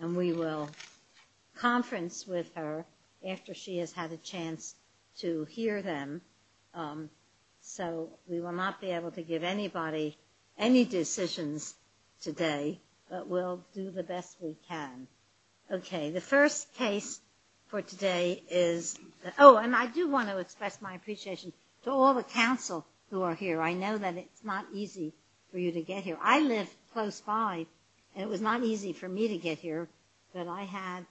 and we will conference with her after she has had a chance to hear them. So we will not be able to give anybody any decisions today, but we'll do the best we can. Okay, the first case for today is – oh, and I do want to express my appreciation to all the council who are here. I know that it's not easy for you to get here. I live close by and it was not easy for me to get here, but I had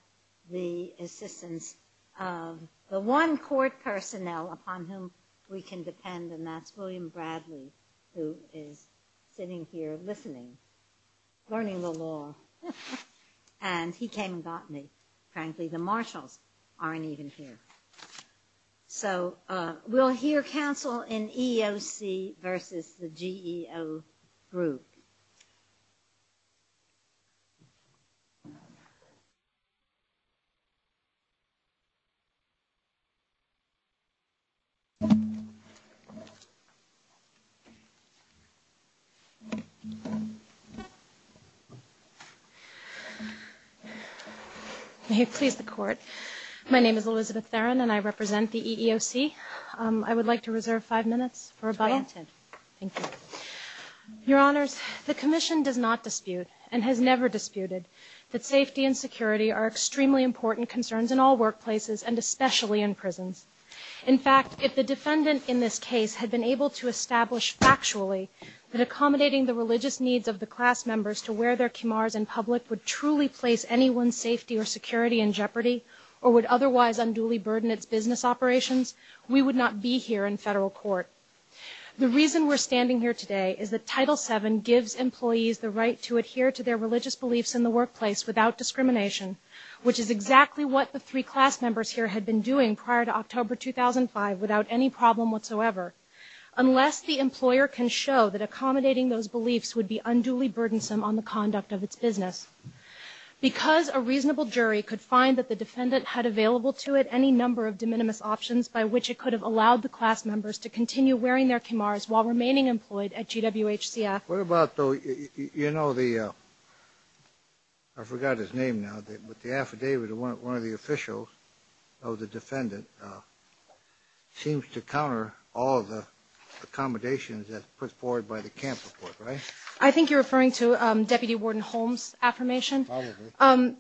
the assistance of the one court personnel upon whom we can depend, and that's William Bradley, who is sitting here listening, learning the law. And he came and got me. Frankly, the marshals aren't even here. So we'll hear council in EEOCv.GEOGrp. May it please the Court. My name is Elizabeth Theron and I represent the EEOC. I would like to reserve five minutes for rebuttal. Thank you. Your Honors, the Commission does not dispute, and has never disputed, that safety and security are extremely important concerns in all workplaces and especially in prisons. In fact, if the defendant in this case had been able to establish factually that accommodating the religious needs of the class members to wear their kimars in public would truly place anyone's safety or security in jeopardy or would otherwise unduly burden its business operations, we would not be here in federal court. The reason we're standing here today is that Title VII gives employees the right to adhere to their religious beliefs in the workplace without discrimination, which is exactly what the three class members here had been doing prior to October 2005 without any problem whatsoever, unless the employer can show that accommodating those beliefs would be unduly burdensome on the conduct of its business. Because a reasonable jury could find that the defendant had available to it any number of de minimis options by which it could have allowed the class members to continue wearing their kimars while remaining employed at GWHCF. What about, though, you know the, I forgot his name now, but the affidavit of one of the officials of the defendant seems to counter all of the accommodations that's put forward by the camp report, right? I think you're referring to Deputy Warden Holmes' affirmation? Probably.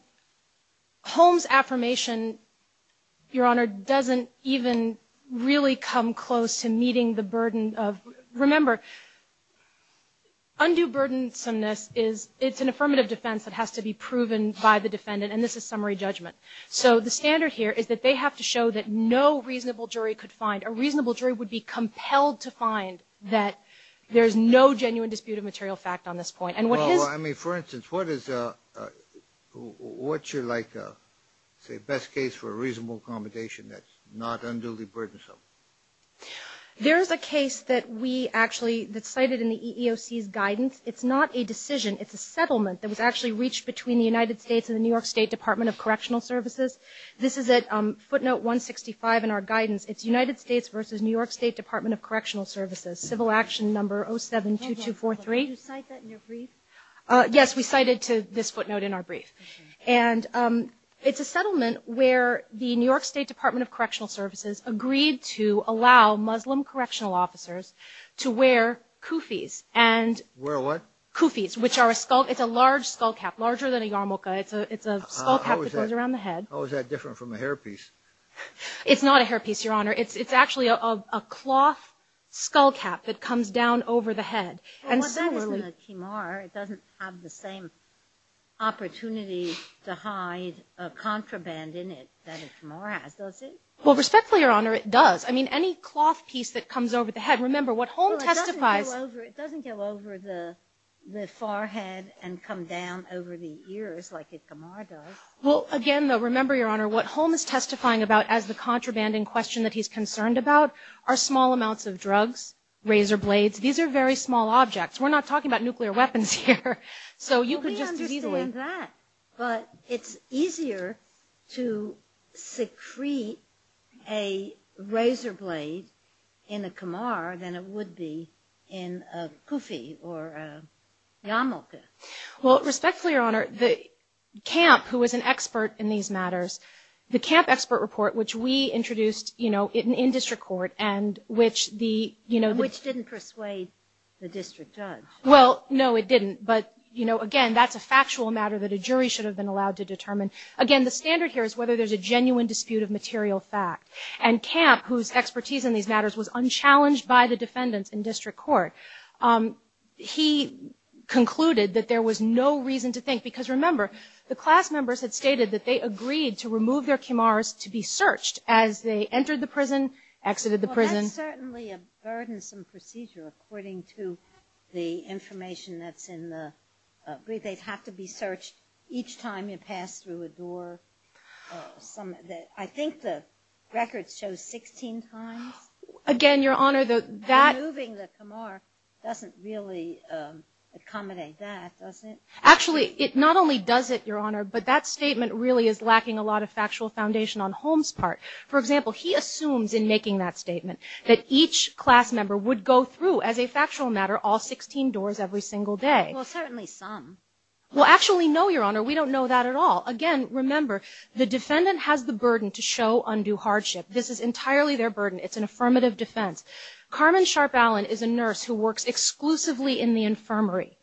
Holmes' affirmation, Your Honor, doesn't even really come close to meeting the burden of, remember, undue burdensomeness is, it's an affirmative defense that has to be proven by the defendant, and this is summary judgment. So the standard here is that they have to show that no reasonable jury could find, a reasonable jury would be compelled to find that there's no genuine dispute of material fact on this point. Well, I mean, for instance, what is, what's your, like, say, best case for a reasonable accommodation that's not unduly burdensome? There is a case that we actually, that's cited in the EEOC's guidance. It's not a decision. It's a settlement that was actually reached between the United States and the New York State Department of Correctional Services. This is at footnote 165 in our guidance. It's United States versus New York State Department of Correctional Services, Civil Action Number 072243. Did you cite that in your brief? Yes, we cited to this footnote in our brief. And it's a settlement where the New York State Department of Correctional Services agreed to allow Muslim correctional officers to wear kufis. Wear what? Kufis, which are a skull, it's a large skull cap, larger than a yarmulke. It's a skull cap that goes around the head. How is that different from a hairpiece? It's not a hairpiece, Your Honor. It's actually a cloth skull cap that comes down over the head. Well, that isn't a kimar. It doesn't have the same opportunity to hide a contraband in it that a kimar has, does it? Well, respectfully, Your Honor, it does. I mean, any cloth piece that comes over the head, remember what Holm testifies. Well, it doesn't go over the forehead and come down over the ears like a kimar does. Well, again, though, remember, Your Honor, what Holm is testifying about as the contraband in question that he's concerned about are small amounts of drugs, razor blades. These are very small objects. We're not talking about nuclear weapons here. So you could just as easily – Well, we understand that. But it's easier to secrete a razor blade in a kimar than it would be in a kufi or a yarmulke. Well, respectfully, Your Honor, Camp, who was an expert in these matters, the Camp expert report, which we introduced in district court and which the – Which didn't persuade the district judge. Well, no, it didn't. But, you know, again, that's a factual matter that a jury should have been allowed to determine. Again, the standard here is whether there's a genuine dispute of material fact. And Camp, whose expertise in these matters was unchallenged by the defendants in district court, he concluded that there was no reason to think – because, remember, the class members had stated that they agreed to remove their kimars to be searched as they entered the prison, exited the prison. Well, that's certainly a burdensome procedure according to the information that's in the – they have to be searched each time you pass through a door. I think the record shows 16 times. Again, Your Honor, that – doesn't really accommodate that, does it? Actually, it not only does it, Your Honor, but that statement really is lacking a lot of factual foundation on Holmes' part. For example, he assumes in making that statement that each class member would go through, as a factual matter, all 16 doors every single day. Well, certainly some. Well, actually, no, Your Honor. We don't know that at all. Again, remember, the defendant has the burden to show undue hardship. This is entirely their burden. It's an affirmative defense. Carmen Sharp-Allen is a nurse who works exclusively in the infirmary.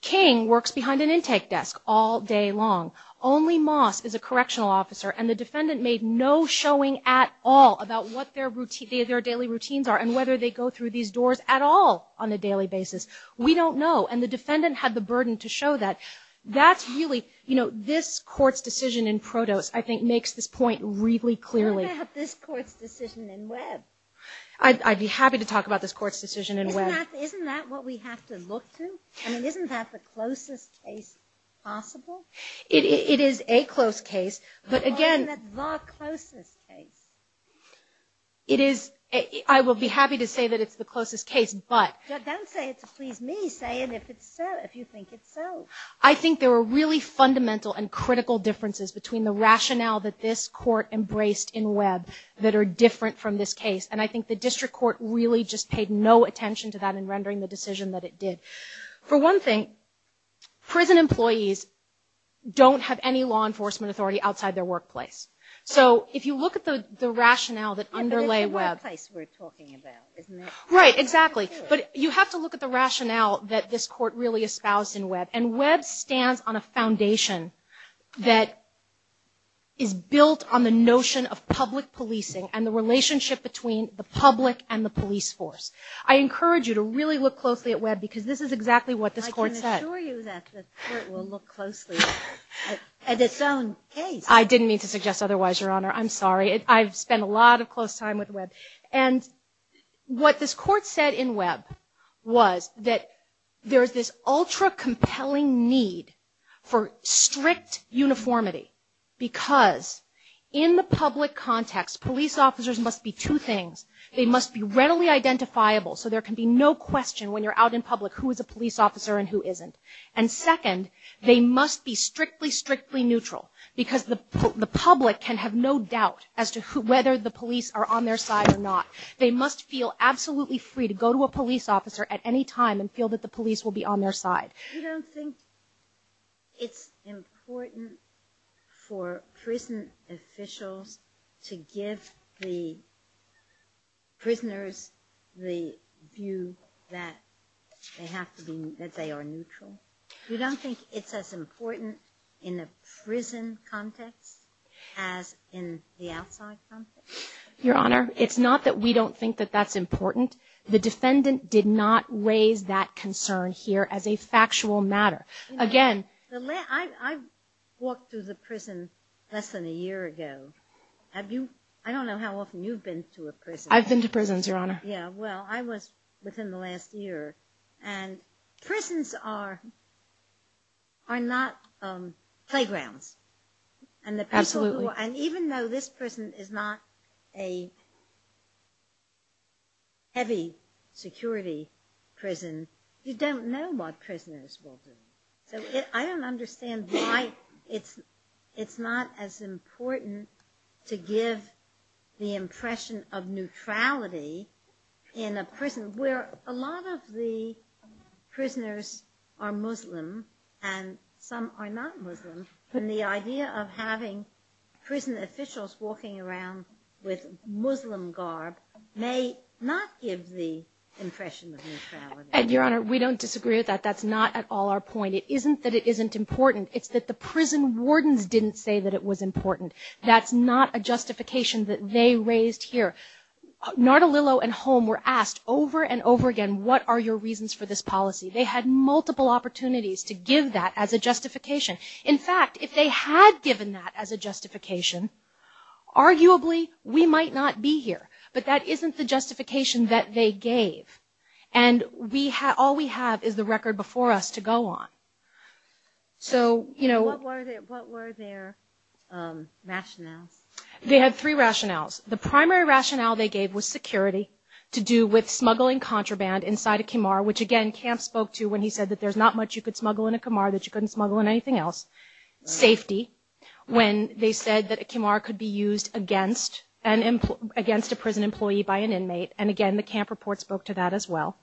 King works behind an intake desk all day long. Only Moss is a correctional officer, and the defendant made no showing at all about what their daily routines are and whether they go through these doors at all on a daily basis. We don't know, and the defendant had the burden to show that. That's really – you know, this Court's decision in Protos, I think, makes this point really clearly. What about this Court's decision in Webb? I'd be happy to talk about this Court's decision in Webb. Isn't that what we have to look to? I mean, isn't that the closest case possible? It is a close case, but again – Why isn't it the closest case? It is – I will be happy to say that it's the closest case, but – Don't say it to please me. Say it if it's so, if you think it's so. I think there are really fundamental and critical differences between the rationale that this Court embraced in Webb that are different from this case, and I think the district court really just paid no attention to that in rendering the decision that it did. For one thing, prison employees don't have any law enforcement authority outside their workplace. So if you look at the rationale that underlay Webb – But it's the workplace we're talking about, isn't it? Right, exactly. But you have to look at the rationale that this Court really espoused in Webb, and Webb stands on a foundation that is built on the notion of public policing and the relationship between the public and the police force. I encourage you to really look closely at Webb because this is exactly what this Court said. I can assure you that the Court will look closely at its own case. I didn't mean to suggest otherwise, Your Honor. I'm sorry. I've spent a lot of close time with Webb. And what this Court said in Webb was that there's this ultra-compelling need for strict uniformity because in the public context, police officers must be two things. They must be readily identifiable, so there can be no question when you're out in public who is a police officer and who isn't. And second, they must be strictly, strictly neutral because the public can have no doubt as to whether the police are on their side or not. They must feel absolutely free to go to a police officer at any time and feel that the police will be on their side. You don't think it's important for prison officials to give the prisoners the view that they are neutral? You don't think it's as important in a prison context as in the outside context? Your Honor, it's not that we don't think that that's important. The defendant did not raise that concern here as a factual matter. Again, I walked through the prison less than a year ago. I don't know how often you've been to a prison. I've been to prisons, Your Honor. Yeah, well, I was within the last year. And prisons are not playgrounds. Absolutely. And even though this prison is not a heavy security prison, you don't know what prisoners will do. So I don't understand why it's not as important to give the impression of neutrality in a prison where a lot of the prisoners are Muslim and some are not Muslim. And the idea of having prison officials walking around with Muslim garb may not give the impression of neutrality. And, Your Honor, we don't disagree with that. That's not at all our point. It isn't that it isn't important. It's that the prison wardens didn't say that it was important. That's not a justification that they raised here. Nardolillo and Holm were asked over and over again, what are your reasons for this policy? They had multiple opportunities to give that as a justification. In fact, if they had given that as a justification, arguably we might not be here. But that isn't the justification that they gave. And all we have is the record before us to go on. So, you know. What were their rationales? They had three rationales. The primary rationale they gave was security to do with smuggling contraband inside a kimar, which, again, Camp spoke to when he said that there's not much you could smuggle in a kimar that you couldn't smuggle in anything else. Safety, when they said that a kimar could be used against a prison employee by an inmate. And, again, the Camp report spoke to that as well.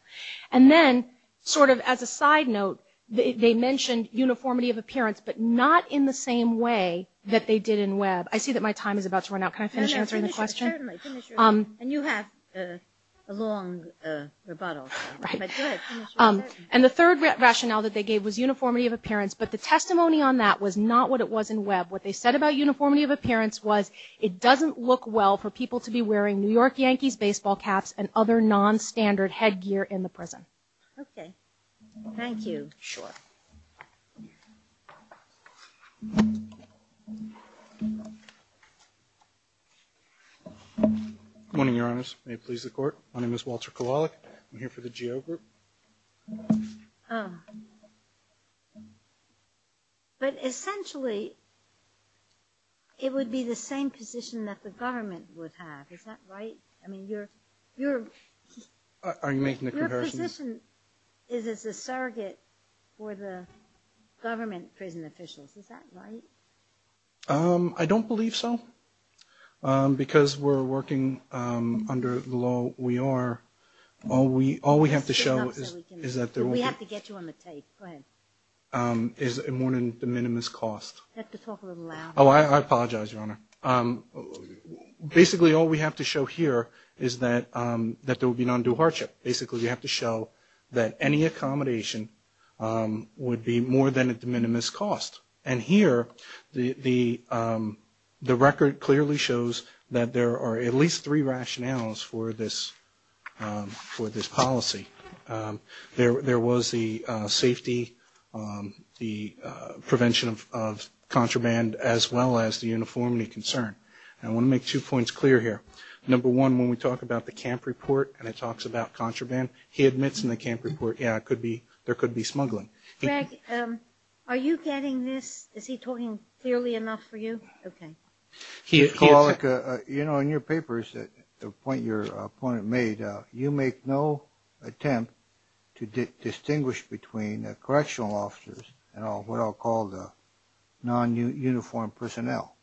And then, sort of as a side note, they mentioned uniformity of appearance, but not in the same way that they did in Webb. I see that my time is about to run out. Can I finish answering the question? Certainly. And you have a long rebuttal. Right. And the third rationale that they gave was uniformity of appearance, but the testimony on that was not what it was in Webb. What they said about uniformity of appearance was it doesn't look well for people to be wearing New York Yankees baseball caps and other nonstandard headgear in the prison. Okay. Thank you. Sure. Good morning, Your Honors. May it please the Court. My name is Walter Kowalik. I'm here for the Geo Group. Oh. But, essentially, it would be the same position that the government would have. Is that right? I mean, you're ‑‑ Are you making the comparison? The position is it's a surrogate for the government prison officials. Is that right? I don't believe so. Because we're working under the law we are. All we have to show is that there will be ‑‑ We have to get you on the tape. Go ahead. Is it more than the minimum cost? You have to talk a little louder. Oh, I apologize, Your Honor. Basically, all we have to show here is that there will be non‑due hardship. Basically, we have to show that any accommodation would be more than at the minimum cost. And here, the record clearly shows that there are at least three rationales for this policy. There was the safety, the prevention of contraband, as well as the uniformity concern. I want to make two points clear here. Number one, when we talk about the camp report and it talks about contraband, he admits in the camp report, yeah, there could be smuggling. Greg, are you getting this? Is he talking clearly enough for you? Okay. You know, in your papers, the point your opponent made, you make no attempt to distinguish between correctional officers and what I'll call the non‑uniformed personnel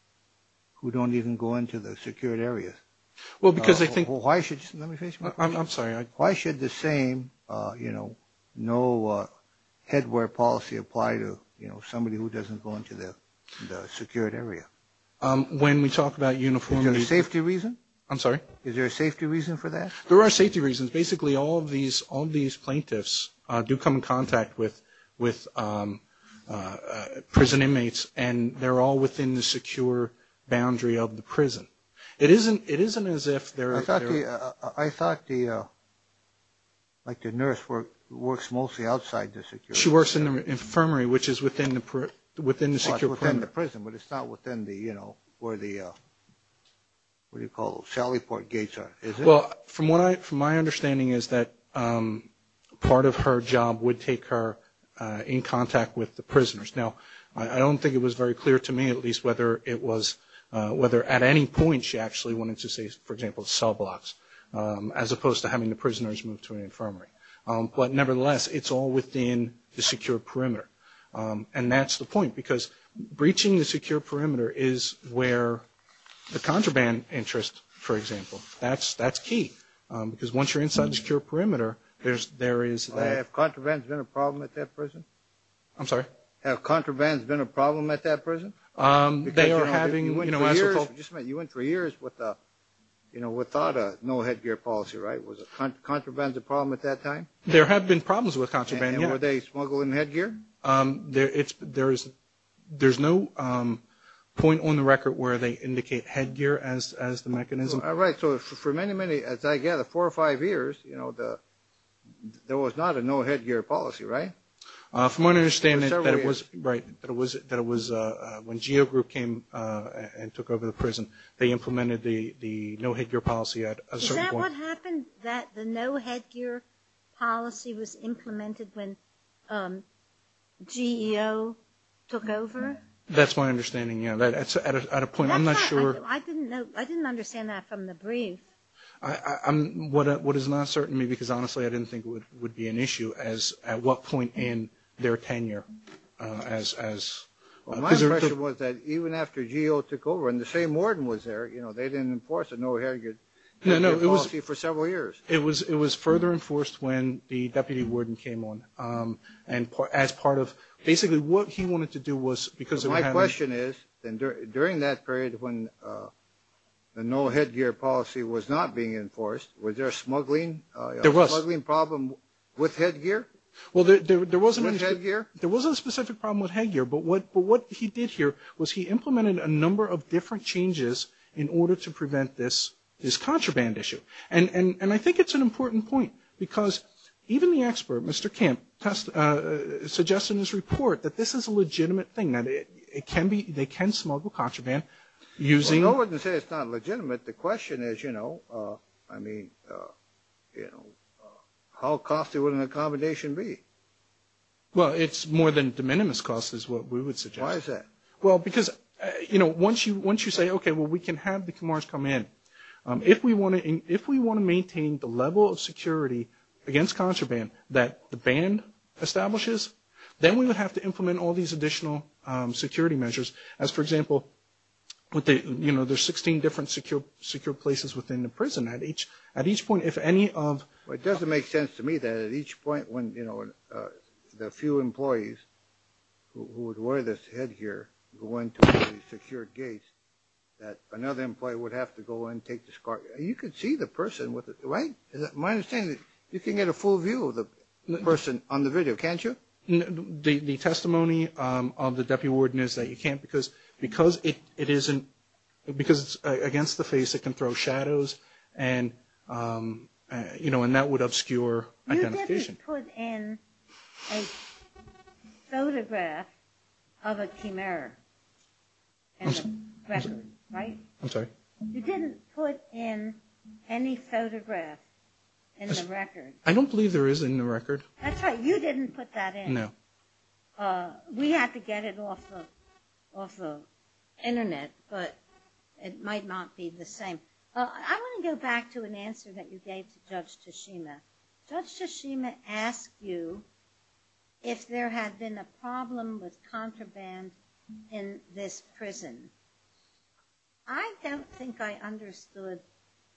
who don't even go into the secured areas. Well, because I think ‑‑ Let me finish my question. I'm sorry. Why should the same, you know, no headwear policy apply to, you know, somebody who doesn't go into the secured area? When we talk about uniformity ‑‑ Is there a safety reason? I'm sorry? Is there a safety reason for that? There are safety reasons. Basically, all of these plaintiffs do come in contact with prison inmates and they're all within the secure boundary of the prison. It isn't as if they're ‑‑ I thought the nurse works mostly outside the secure ‑‑ She works in the infirmary, which is within the secure perimeter. Within the prison, but it's not within the, you know, where the, what do you call it, Well, from my understanding is that part of her job would take her in contact with the prisoners. Now, I don't think it was very clear to me at least whether it was, whether at any point she actually wanted to say, for example, cell blocks, as opposed to having the prisoners move to an infirmary. But nevertheless, it's all within the secure perimeter. And that's the point, because breaching the secure perimeter is where the contraband interest, for example, that's key. Because once you're inside the secure perimeter, there is ‑‑ Have contraband been a problem at that prison? I'm sorry? Have contraband been a problem at that prison? They are having ‑‑ You went for years with a, you know, without a no headgear policy, right? Was contraband a problem at that time? There have been problems with contraband, yes. And were they smuggling headgear? There's no point on the record where they indicate headgear as the mechanism. All right. So for many, many, as I gather, four or five years, you know, there was not a no headgear policy, right? From my understanding that it was, right, that it was when GEO Group came and took over the prison, they implemented the no headgear policy at a certain point. What happened that the no headgear policy was implemented when GEO took over? That's my understanding, yeah. At a point, I'm not sure ‑‑ I didn't understand that from the brief. What is not certain to me, because honestly I didn't think it would be an issue, as at what point in their tenure as ‑‑ My impression was that even after GEO took over and the same warden was there, you know, they didn't enforce a no headgear policy. No, no, it was ‑‑ For several years. It was further enforced when the deputy warden came on, and as part of basically what he wanted to do was because they were having ‑‑ My question is, during that period when the no headgear policy was not being enforced, was there a smuggling problem with headgear? Well, there was a specific problem with headgear, but what he did here was he implemented a number of different changes in order to prevent this contraband issue, and I think it's an important point because even the expert, Mr. Kemp, suggested in his report that this is a legitimate thing, that they can smuggle contraband using ‑‑ Well, no one can say it's not legitimate. The question is, you know, I mean, you know, how costly would an accommodation be? Well, it's more than de minimis cost is what we would suggest. Why is that? Well, because, you know, once you say, okay, well, we can have the Khmers come in. If we want to maintain the level of security against contraband that the band establishes, then we would have to implement all these additional security measures, as, for example, you know, there's 16 different secure places within the prison. At each point, if any of ‑‑ Well, it doesn't make sense to me that at each point when, you know, the few employees who would wear this headgear go into the secured gates that another employee would have to go in and take the scarf. You could see the person with it, right? My understanding is you can get a full view of the person on the video, can't you? The testimony of the deputy warden is that you can't because it isn't ‑‑ because it's against the face, it can throw shadows, and, you know, and that would obscure identification. You didn't put in a photograph of a Khmer in the record, right? I'm sorry? You didn't put in any photograph in the record. I don't believe there is in the record. That's right. You didn't put that in. No. We had to get it off the Internet, but it might not be the same. I want to go back to an answer that you gave to Judge Tashima. Judge Tashima asked you if there had been a problem with contraband in this prison. I don't think I understood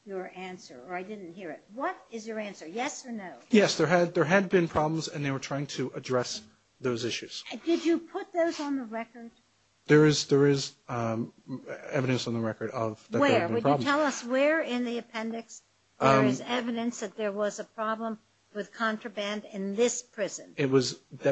your answer, or I didn't hear it. What is your answer, yes or no? Yes, there had been problems, and they were trying to address those issues. Did you put those on the record? There is evidence on the record of that there had been problems. Where? Would you tell us where in the appendix there is evidence that there was a problem with contraband in this prison? It was, I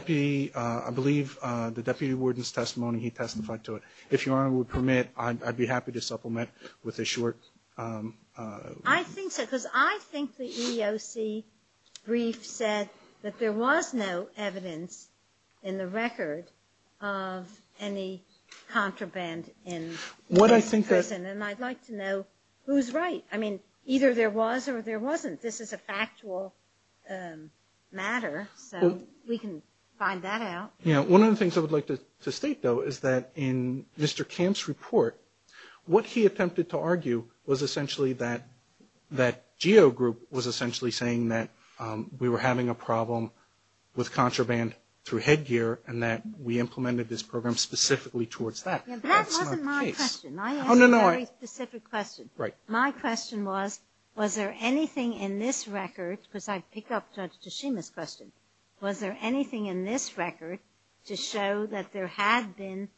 believe, the deputy warden's testimony. He testified to it. If Your Honor would permit, I'd be happy to supplement with a short. I think so, because I think the EEOC brief said that there was no evidence in the record of any contraband in this prison. And I'd like to know who's right. I mean, either there was or there wasn't. This is a factual matter, so we can find that out. One of the things I would like to state, though, is that in Mr. Camp's report, what he attempted to argue was essentially that that GEO group was essentially saying that we were having a problem with contraband through headgear and that we implemented this program specifically towards that. That wasn't my question. I asked a very specific question. Right. My question was, was there anything in this record, because I pick up Judge Tashima's question, was there anything in this record to show that there had been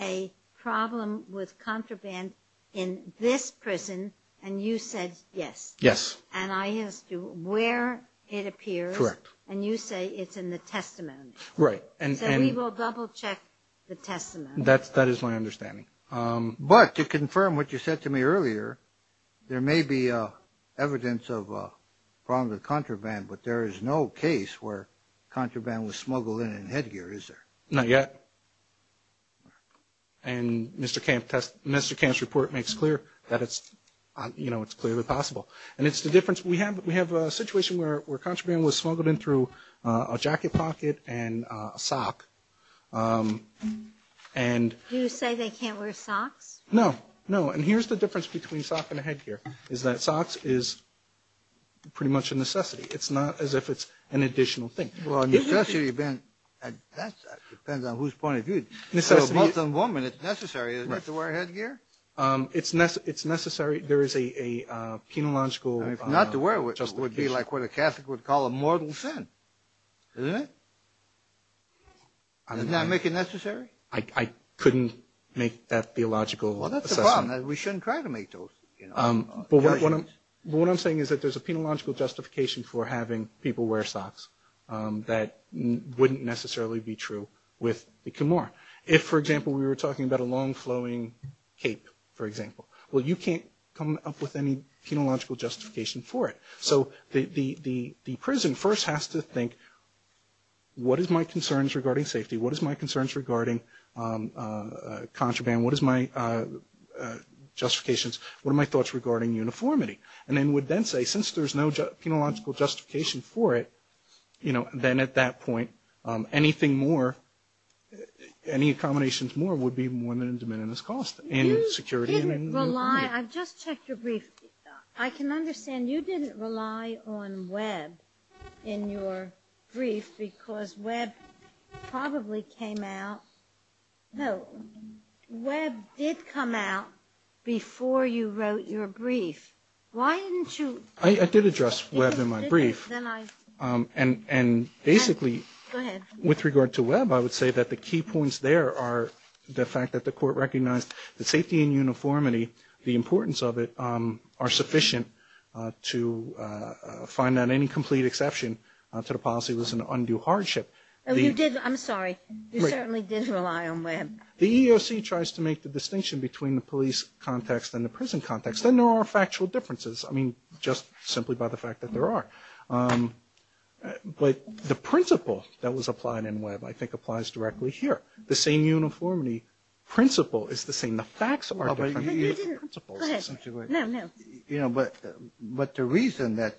a problem with contraband in this prison, and you said yes. Yes. And I asked you where it appears. Correct. And you say it's in the testimony. Right. So we will double-check the testimony. That is my understanding. But to confirm what you said to me earlier, there may be evidence of a problem with contraband, but there is no case where contraband was smuggled in in headgear, is there? Not yet. And Mr. Camp's report makes clear that it's clearly possible. We have a situation where contraband was smuggled in through a jacket pocket and a sock. Do you say they can't wear socks? No. No. And here's the difference between a sock and a headgear, is that socks is pretty much a necessity. It's not as if it's an additional thing. Well, a necessity depends on whose point of view. A Muslim woman, it's necessary, isn't it, to wear headgear? It's necessary. There is a penological justification. Not to wear it would be like what a Catholic would call a mortal sin, isn't it? Doesn't that make it necessary? I couldn't make that theological assessment. Well, that's the problem. We shouldn't try to make those judgments. But what I'm saying is that there's a penological justification for having people wear socks that wouldn't necessarily be true with the Kimor. If, for example, we were talking about a long-flowing cape, for example. Well, you can't come up with any penological justification for it. So the prison first has to think, what is my concerns regarding safety? What is my concerns regarding contraband? What is my justifications? What are my thoughts regarding uniformity? And then would then say, since there's no penological justification for it, then at that point anything more, any accommodations more, would be more than a de minimis cost in security and uniformity. You didn't rely. I just checked your brief. I can understand you didn't rely on Webb in your brief because Webb probably came out. No, Webb did come out before you wrote your brief. Why didn't you? I did address Webb in my brief. Then I. And basically. Go ahead. With regard to Webb, I would say that the key points there are the fact that the court recognized that safety and uniformity, the importance of it, are sufficient to find that any complete exception to the policy was an undue hardship. I'm sorry. You certainly did rely on Webb. The EEOC tries to make the distinction between the police context and the prison context, and there are factual differences, I mean, just simply by the fact that there are. But the principle that was applied in Webb, I think, applies directly here. The same uniformity principle is the same. The facts are different. Go ahead. No, no. But the reason that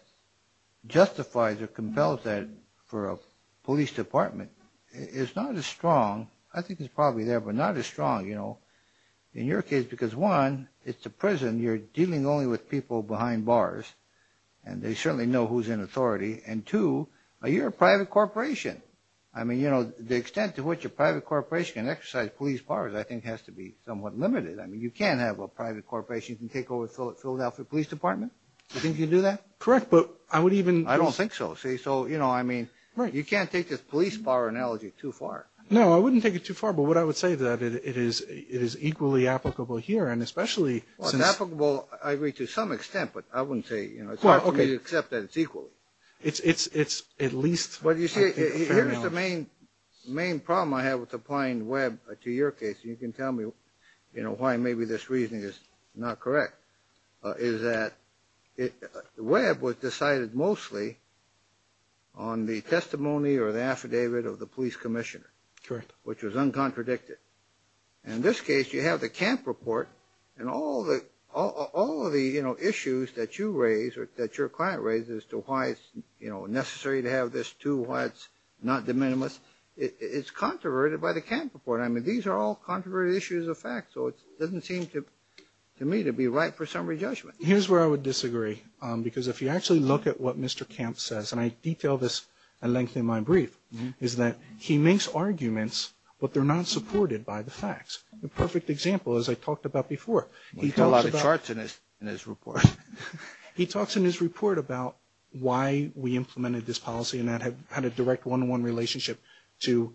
justifies or compels that for a police department is not as strong, I think it's probably there, but not as strong, you know, in your case, because, one, it's a prison. You're dealing only with people behind bars, and they certainly know who's in authority. And, two, you're a private corporation. I mean, you know, the extent to which a private corporation can exercise police powers, I think, has to be somewhat limited. I mean, you can't have a private corporation take over Philadelphia Police Department. Do you think you can do that? Correct, but I would even – I don't think so. See, so, you know, I mean, you can't take this police power analogy too far. No, I wouldn't take it too far, but what I would say is that it is equally applicable here, and especially since – Well, okay. It's hard for me to accept that it's equally. It's at least – Well, you see, here's the main problem I have with applying Webb to your case, and you can tell me, you know, why maybe this reasoning is not correct, is that Webb was decided mostly on the testimony or the affidavit of the police commissioner. Correct. Which was uncontradicted. In this case, you have the Camp report, and all of the, you know, issues that you raise or that your client raises as to why it's, you know, necessary to have this too, why it's not de minimis, it's controverted by the Camp report. I mean, these are all controverted issues of fact, so it doesn't seem to me to be right for summary judgment. Here's where I would disagree, because if you actually look at what Mr. Camp says, and I detail this at length in my brief, is that he makes arguments, but they're not supported by the facts. The perfect example, as I talked about before, he talks about – Well, he's got a lot of charts in his report. He talks in his report about why we implemented this policy and that had a direct one-on-one relationship to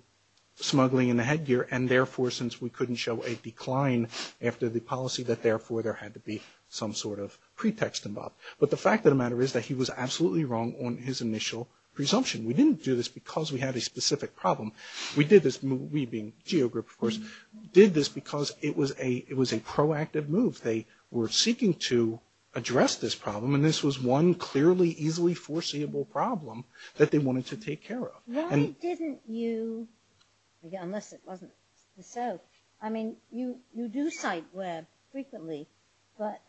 smuggling in the headgear, and therefore, since we couldn't show a decline after the policy, that therefore there had to be some sort of pretext involved. But the fact of the matter is that he was absolutely wrong on his initial presumption. We didn't do this because we had a specific problem. We did this – we being GeoGroup, of course – did this because it was a proactive move. They were seeking to address this problem, and this was one clearly, easily foreseeable problem that they wanted to take care of. Why didn't you – again, unless it wasn't so – I mean, you do cite Webb frequently, but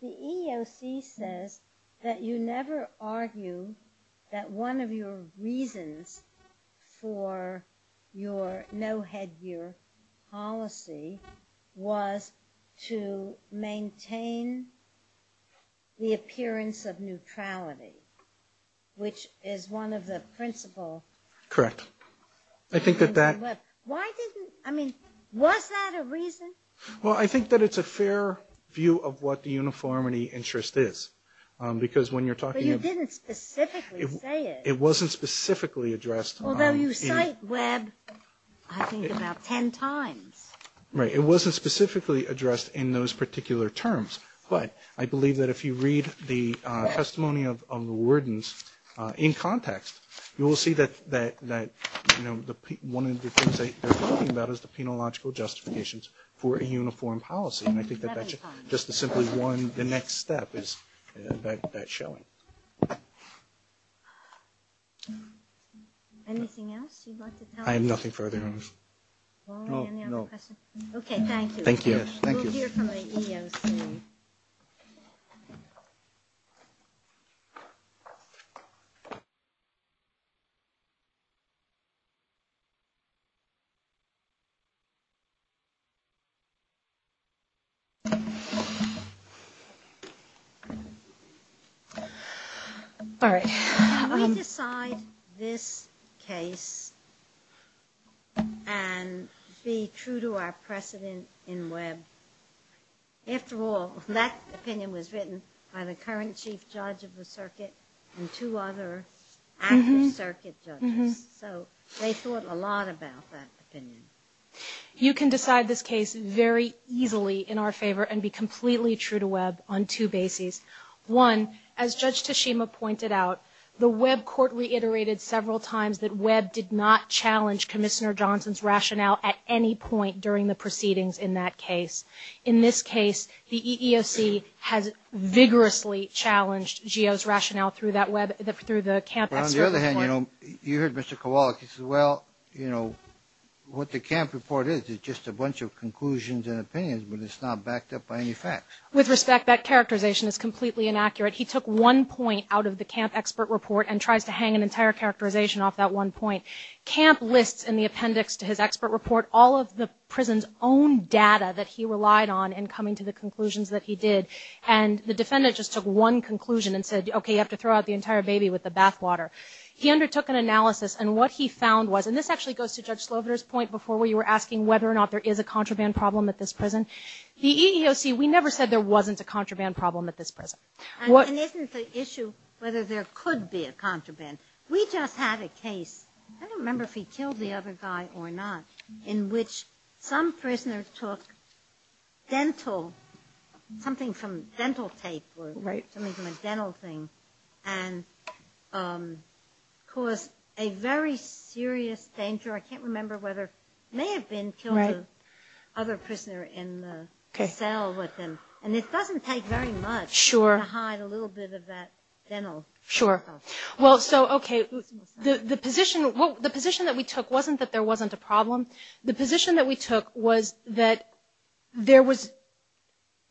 the EEOC says that you never argue that one of your reasons for your no-headgear policy was to maintain the appearance of neutrality, which is one of the principal – Correct. I think that that – Why didn't – I mean, was that a reason? Well, I think that it's a fair view of what the uniformity interest is, because when you're talking of – But you didn't specifically say it. It wasn't specifically addressed – Although you cite Webb, I think, about 10 times. Right. It wasn't specifically addressed in those particular terms. But I believe that if you read the testimony of the wardens in context, you will see that one of the things they're talking about is the penological justifications for a uniform policy, and I think that that's just the simply one – the next step is that showing. Anything else you'd like to tell us? I have nothing further. Oh, no. Okay, thank you. Thank you. We'll hear from the EEOC. All right. Can we decide this case and be true to our precedent in Webb? After all, that opinion was written by the current chief judge of the circuit and two other actors. So they thought a lot about that opinion. You can decide this case very easily in our favor and be completely true to Webb on two bases. One, as Judge Tashima pointed out, the Webb court reiterated several times that Webb did not challenge Commissioner Johnson's rationale at any point during the proceedings in that case. In this case, the EEOC has vigorously challenged GEO's rationale through that Webb – through the camp expert report. But on the other hand, you know, you heard Mr. Kowalik. He said, well, you know, what the camp report is is just a bunch of conclusions and opinions, but it's not backed up by any facts. With respect, that characterization is completely inaccurate. He took one point out of the camp expert report and tries to hang an entire characterization off that one point. Camp lists in the appendix to his expert report all of the prison's own data that he relied on in coming to the conclusions that he did. And the defendant just took one conclusion and said, okay, you have to throw out the entire baby with the bathwater. He undertook an analysis, and what he found was – and this actually goes to Judge Sloviter's point before where you were asking whether or not there is a contraband problem at this prison. The EEOC, we never said there wasn't a contraband problem at this prison. And isn't the issue whether there could be a contraband? We just had a case – I don't remember if he killed the other guy or not – in which some prisoner took dental – something from dental tape or something from a dental thing and caused a very serious danger. I can't remember whether – may have been killed the other prisoner in the cell with him. And it doesn't take very much to hide a little bit of that dental stuff. Sure. Well, so, okay, the position that we took wasn't that there wasn't a problem. The position that we took was that there was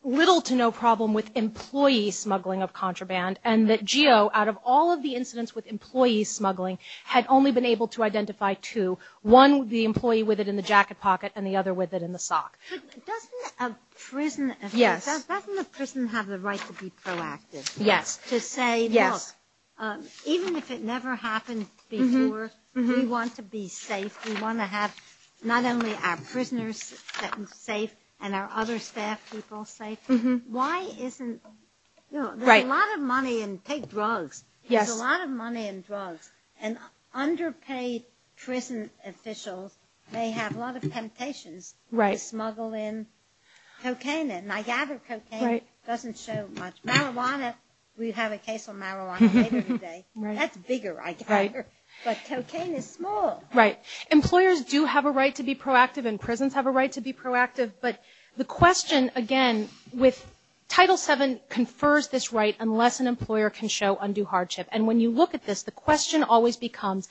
little to no problem with employee smuggling of contraband and that GEO, out of all of the incidents with employee smuggling, had only been able to identify two. One, the employee with it in the jacket pocket, and the other with it in the sock. But doesn't a prison – doesn't a prison have the right to be proactive? Yes. To say, look, even if it never happened before, we want to be safe. We want to have not only our prisoners safe and our other staff people safe. Why isn't – there's a lot of money in – take drugs. There's a lot of money in drugs. And underpaid prison officials may have a lot of temptations to smuggle in cocaine. And I gather cocaine doesn't show much. Marijuana – we have a case on marijuana later today. That's bigger, I gather. Right. But cocaine is small. Right. Employers do have a right to be proactive, and prisons have a right to be proactive. But the question, again, with Title VII confers this right unless an employer can show undue hardship. And when you look at this, the question always becomes,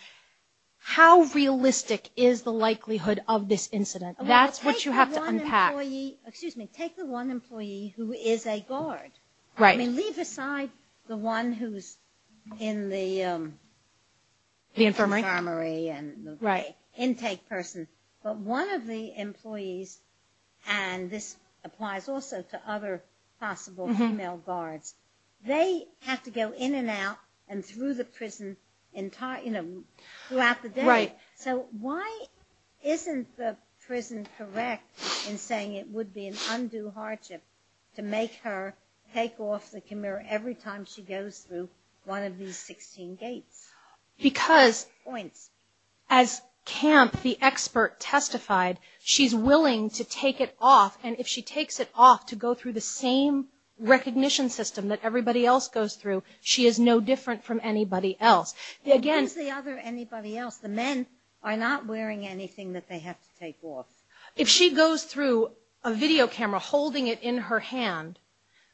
how realistic is the likelihood of this incident? That's what you have to unpack. Well, take the one employee – excuse me – take the one employee who is a guard. Right. I mean, leave aside the one who's in the infirmary and the intake person. But one of the employees – and this applies also to other possible female guards – they have to go in and out and through the prison throughout the day. Right. So why isn't the prison correct in saying it would be an undue hardship to make her take off the camera every time she goes through one of these 16 gates? Because as Camp, the expert, testified, she's willing to take it off. And if she takes it off to go through the same recognition system that everybody else goes through, she is no different from anybody else. And who's the other anybody else? The men are not wearing anything that they have to take off. If she goes through a video camera holding it in her hand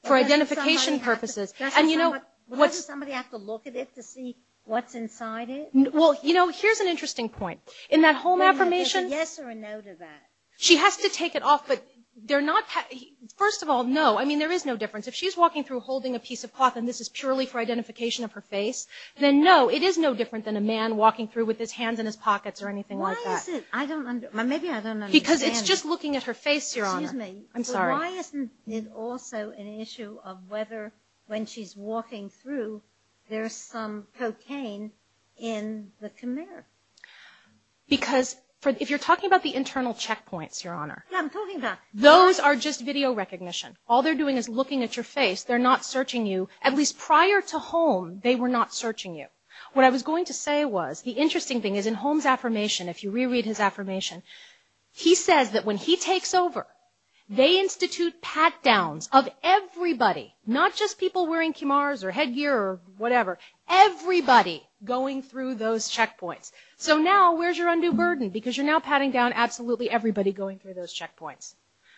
for identification purposes – Why does somebody have to look at it to see what's inside it? Well, you know, here's an interesting point. In that home affirmation – Is there a yes or a no to that? She has to take it off, but they're not – first of all, no. I mean, there is no difference. If she's walking through holding a piece of cloth and this is purely for identification of her face, then no, it is no different than a man walking through with his hands in his pockets or anything like that. Why is it – I don't – maybe I don't understand. Because it's just looking at her face, Your Honor. Excuse me. I'm sorry. But why isn't it also an issue of whether when she's walking through there's some cocaine in the camera? Because if you're talking about the internal checkpoints, Your Honor – I'm talking about – Those are just video recognition. All they're doing is looking at your face. They're not searching you. At least prior to Holm, they were not searching you. What I was going to say was the interesting thing is in Holm's affirmation, if you reread his affirmation, he says that when he takes over, they institute pat-downs of everybody, not just people wearing kimars or headgear or whatever, everybody going through those checkpoints. So now where's your undue burden? Because you're now patting down absolutely everybody going through those checkpoints.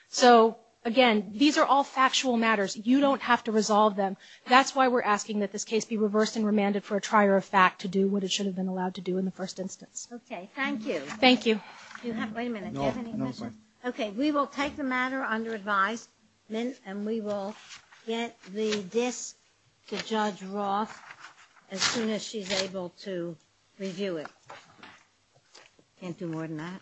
So, again, these are all factual matters. You don't have to resolve them. That's why we're asking that this case be reversed and remanded for a trier of fact to do what it should have been allowed to do in the first instance. Okay. Thank you. Thank you. Do you have – wait a minute. Do you have any questions? No. No. Okay. Okay. We will take the matter under advisement, and we will get the disk to Judge Roth as soon as she's able to review it. Can't do more than that. Right.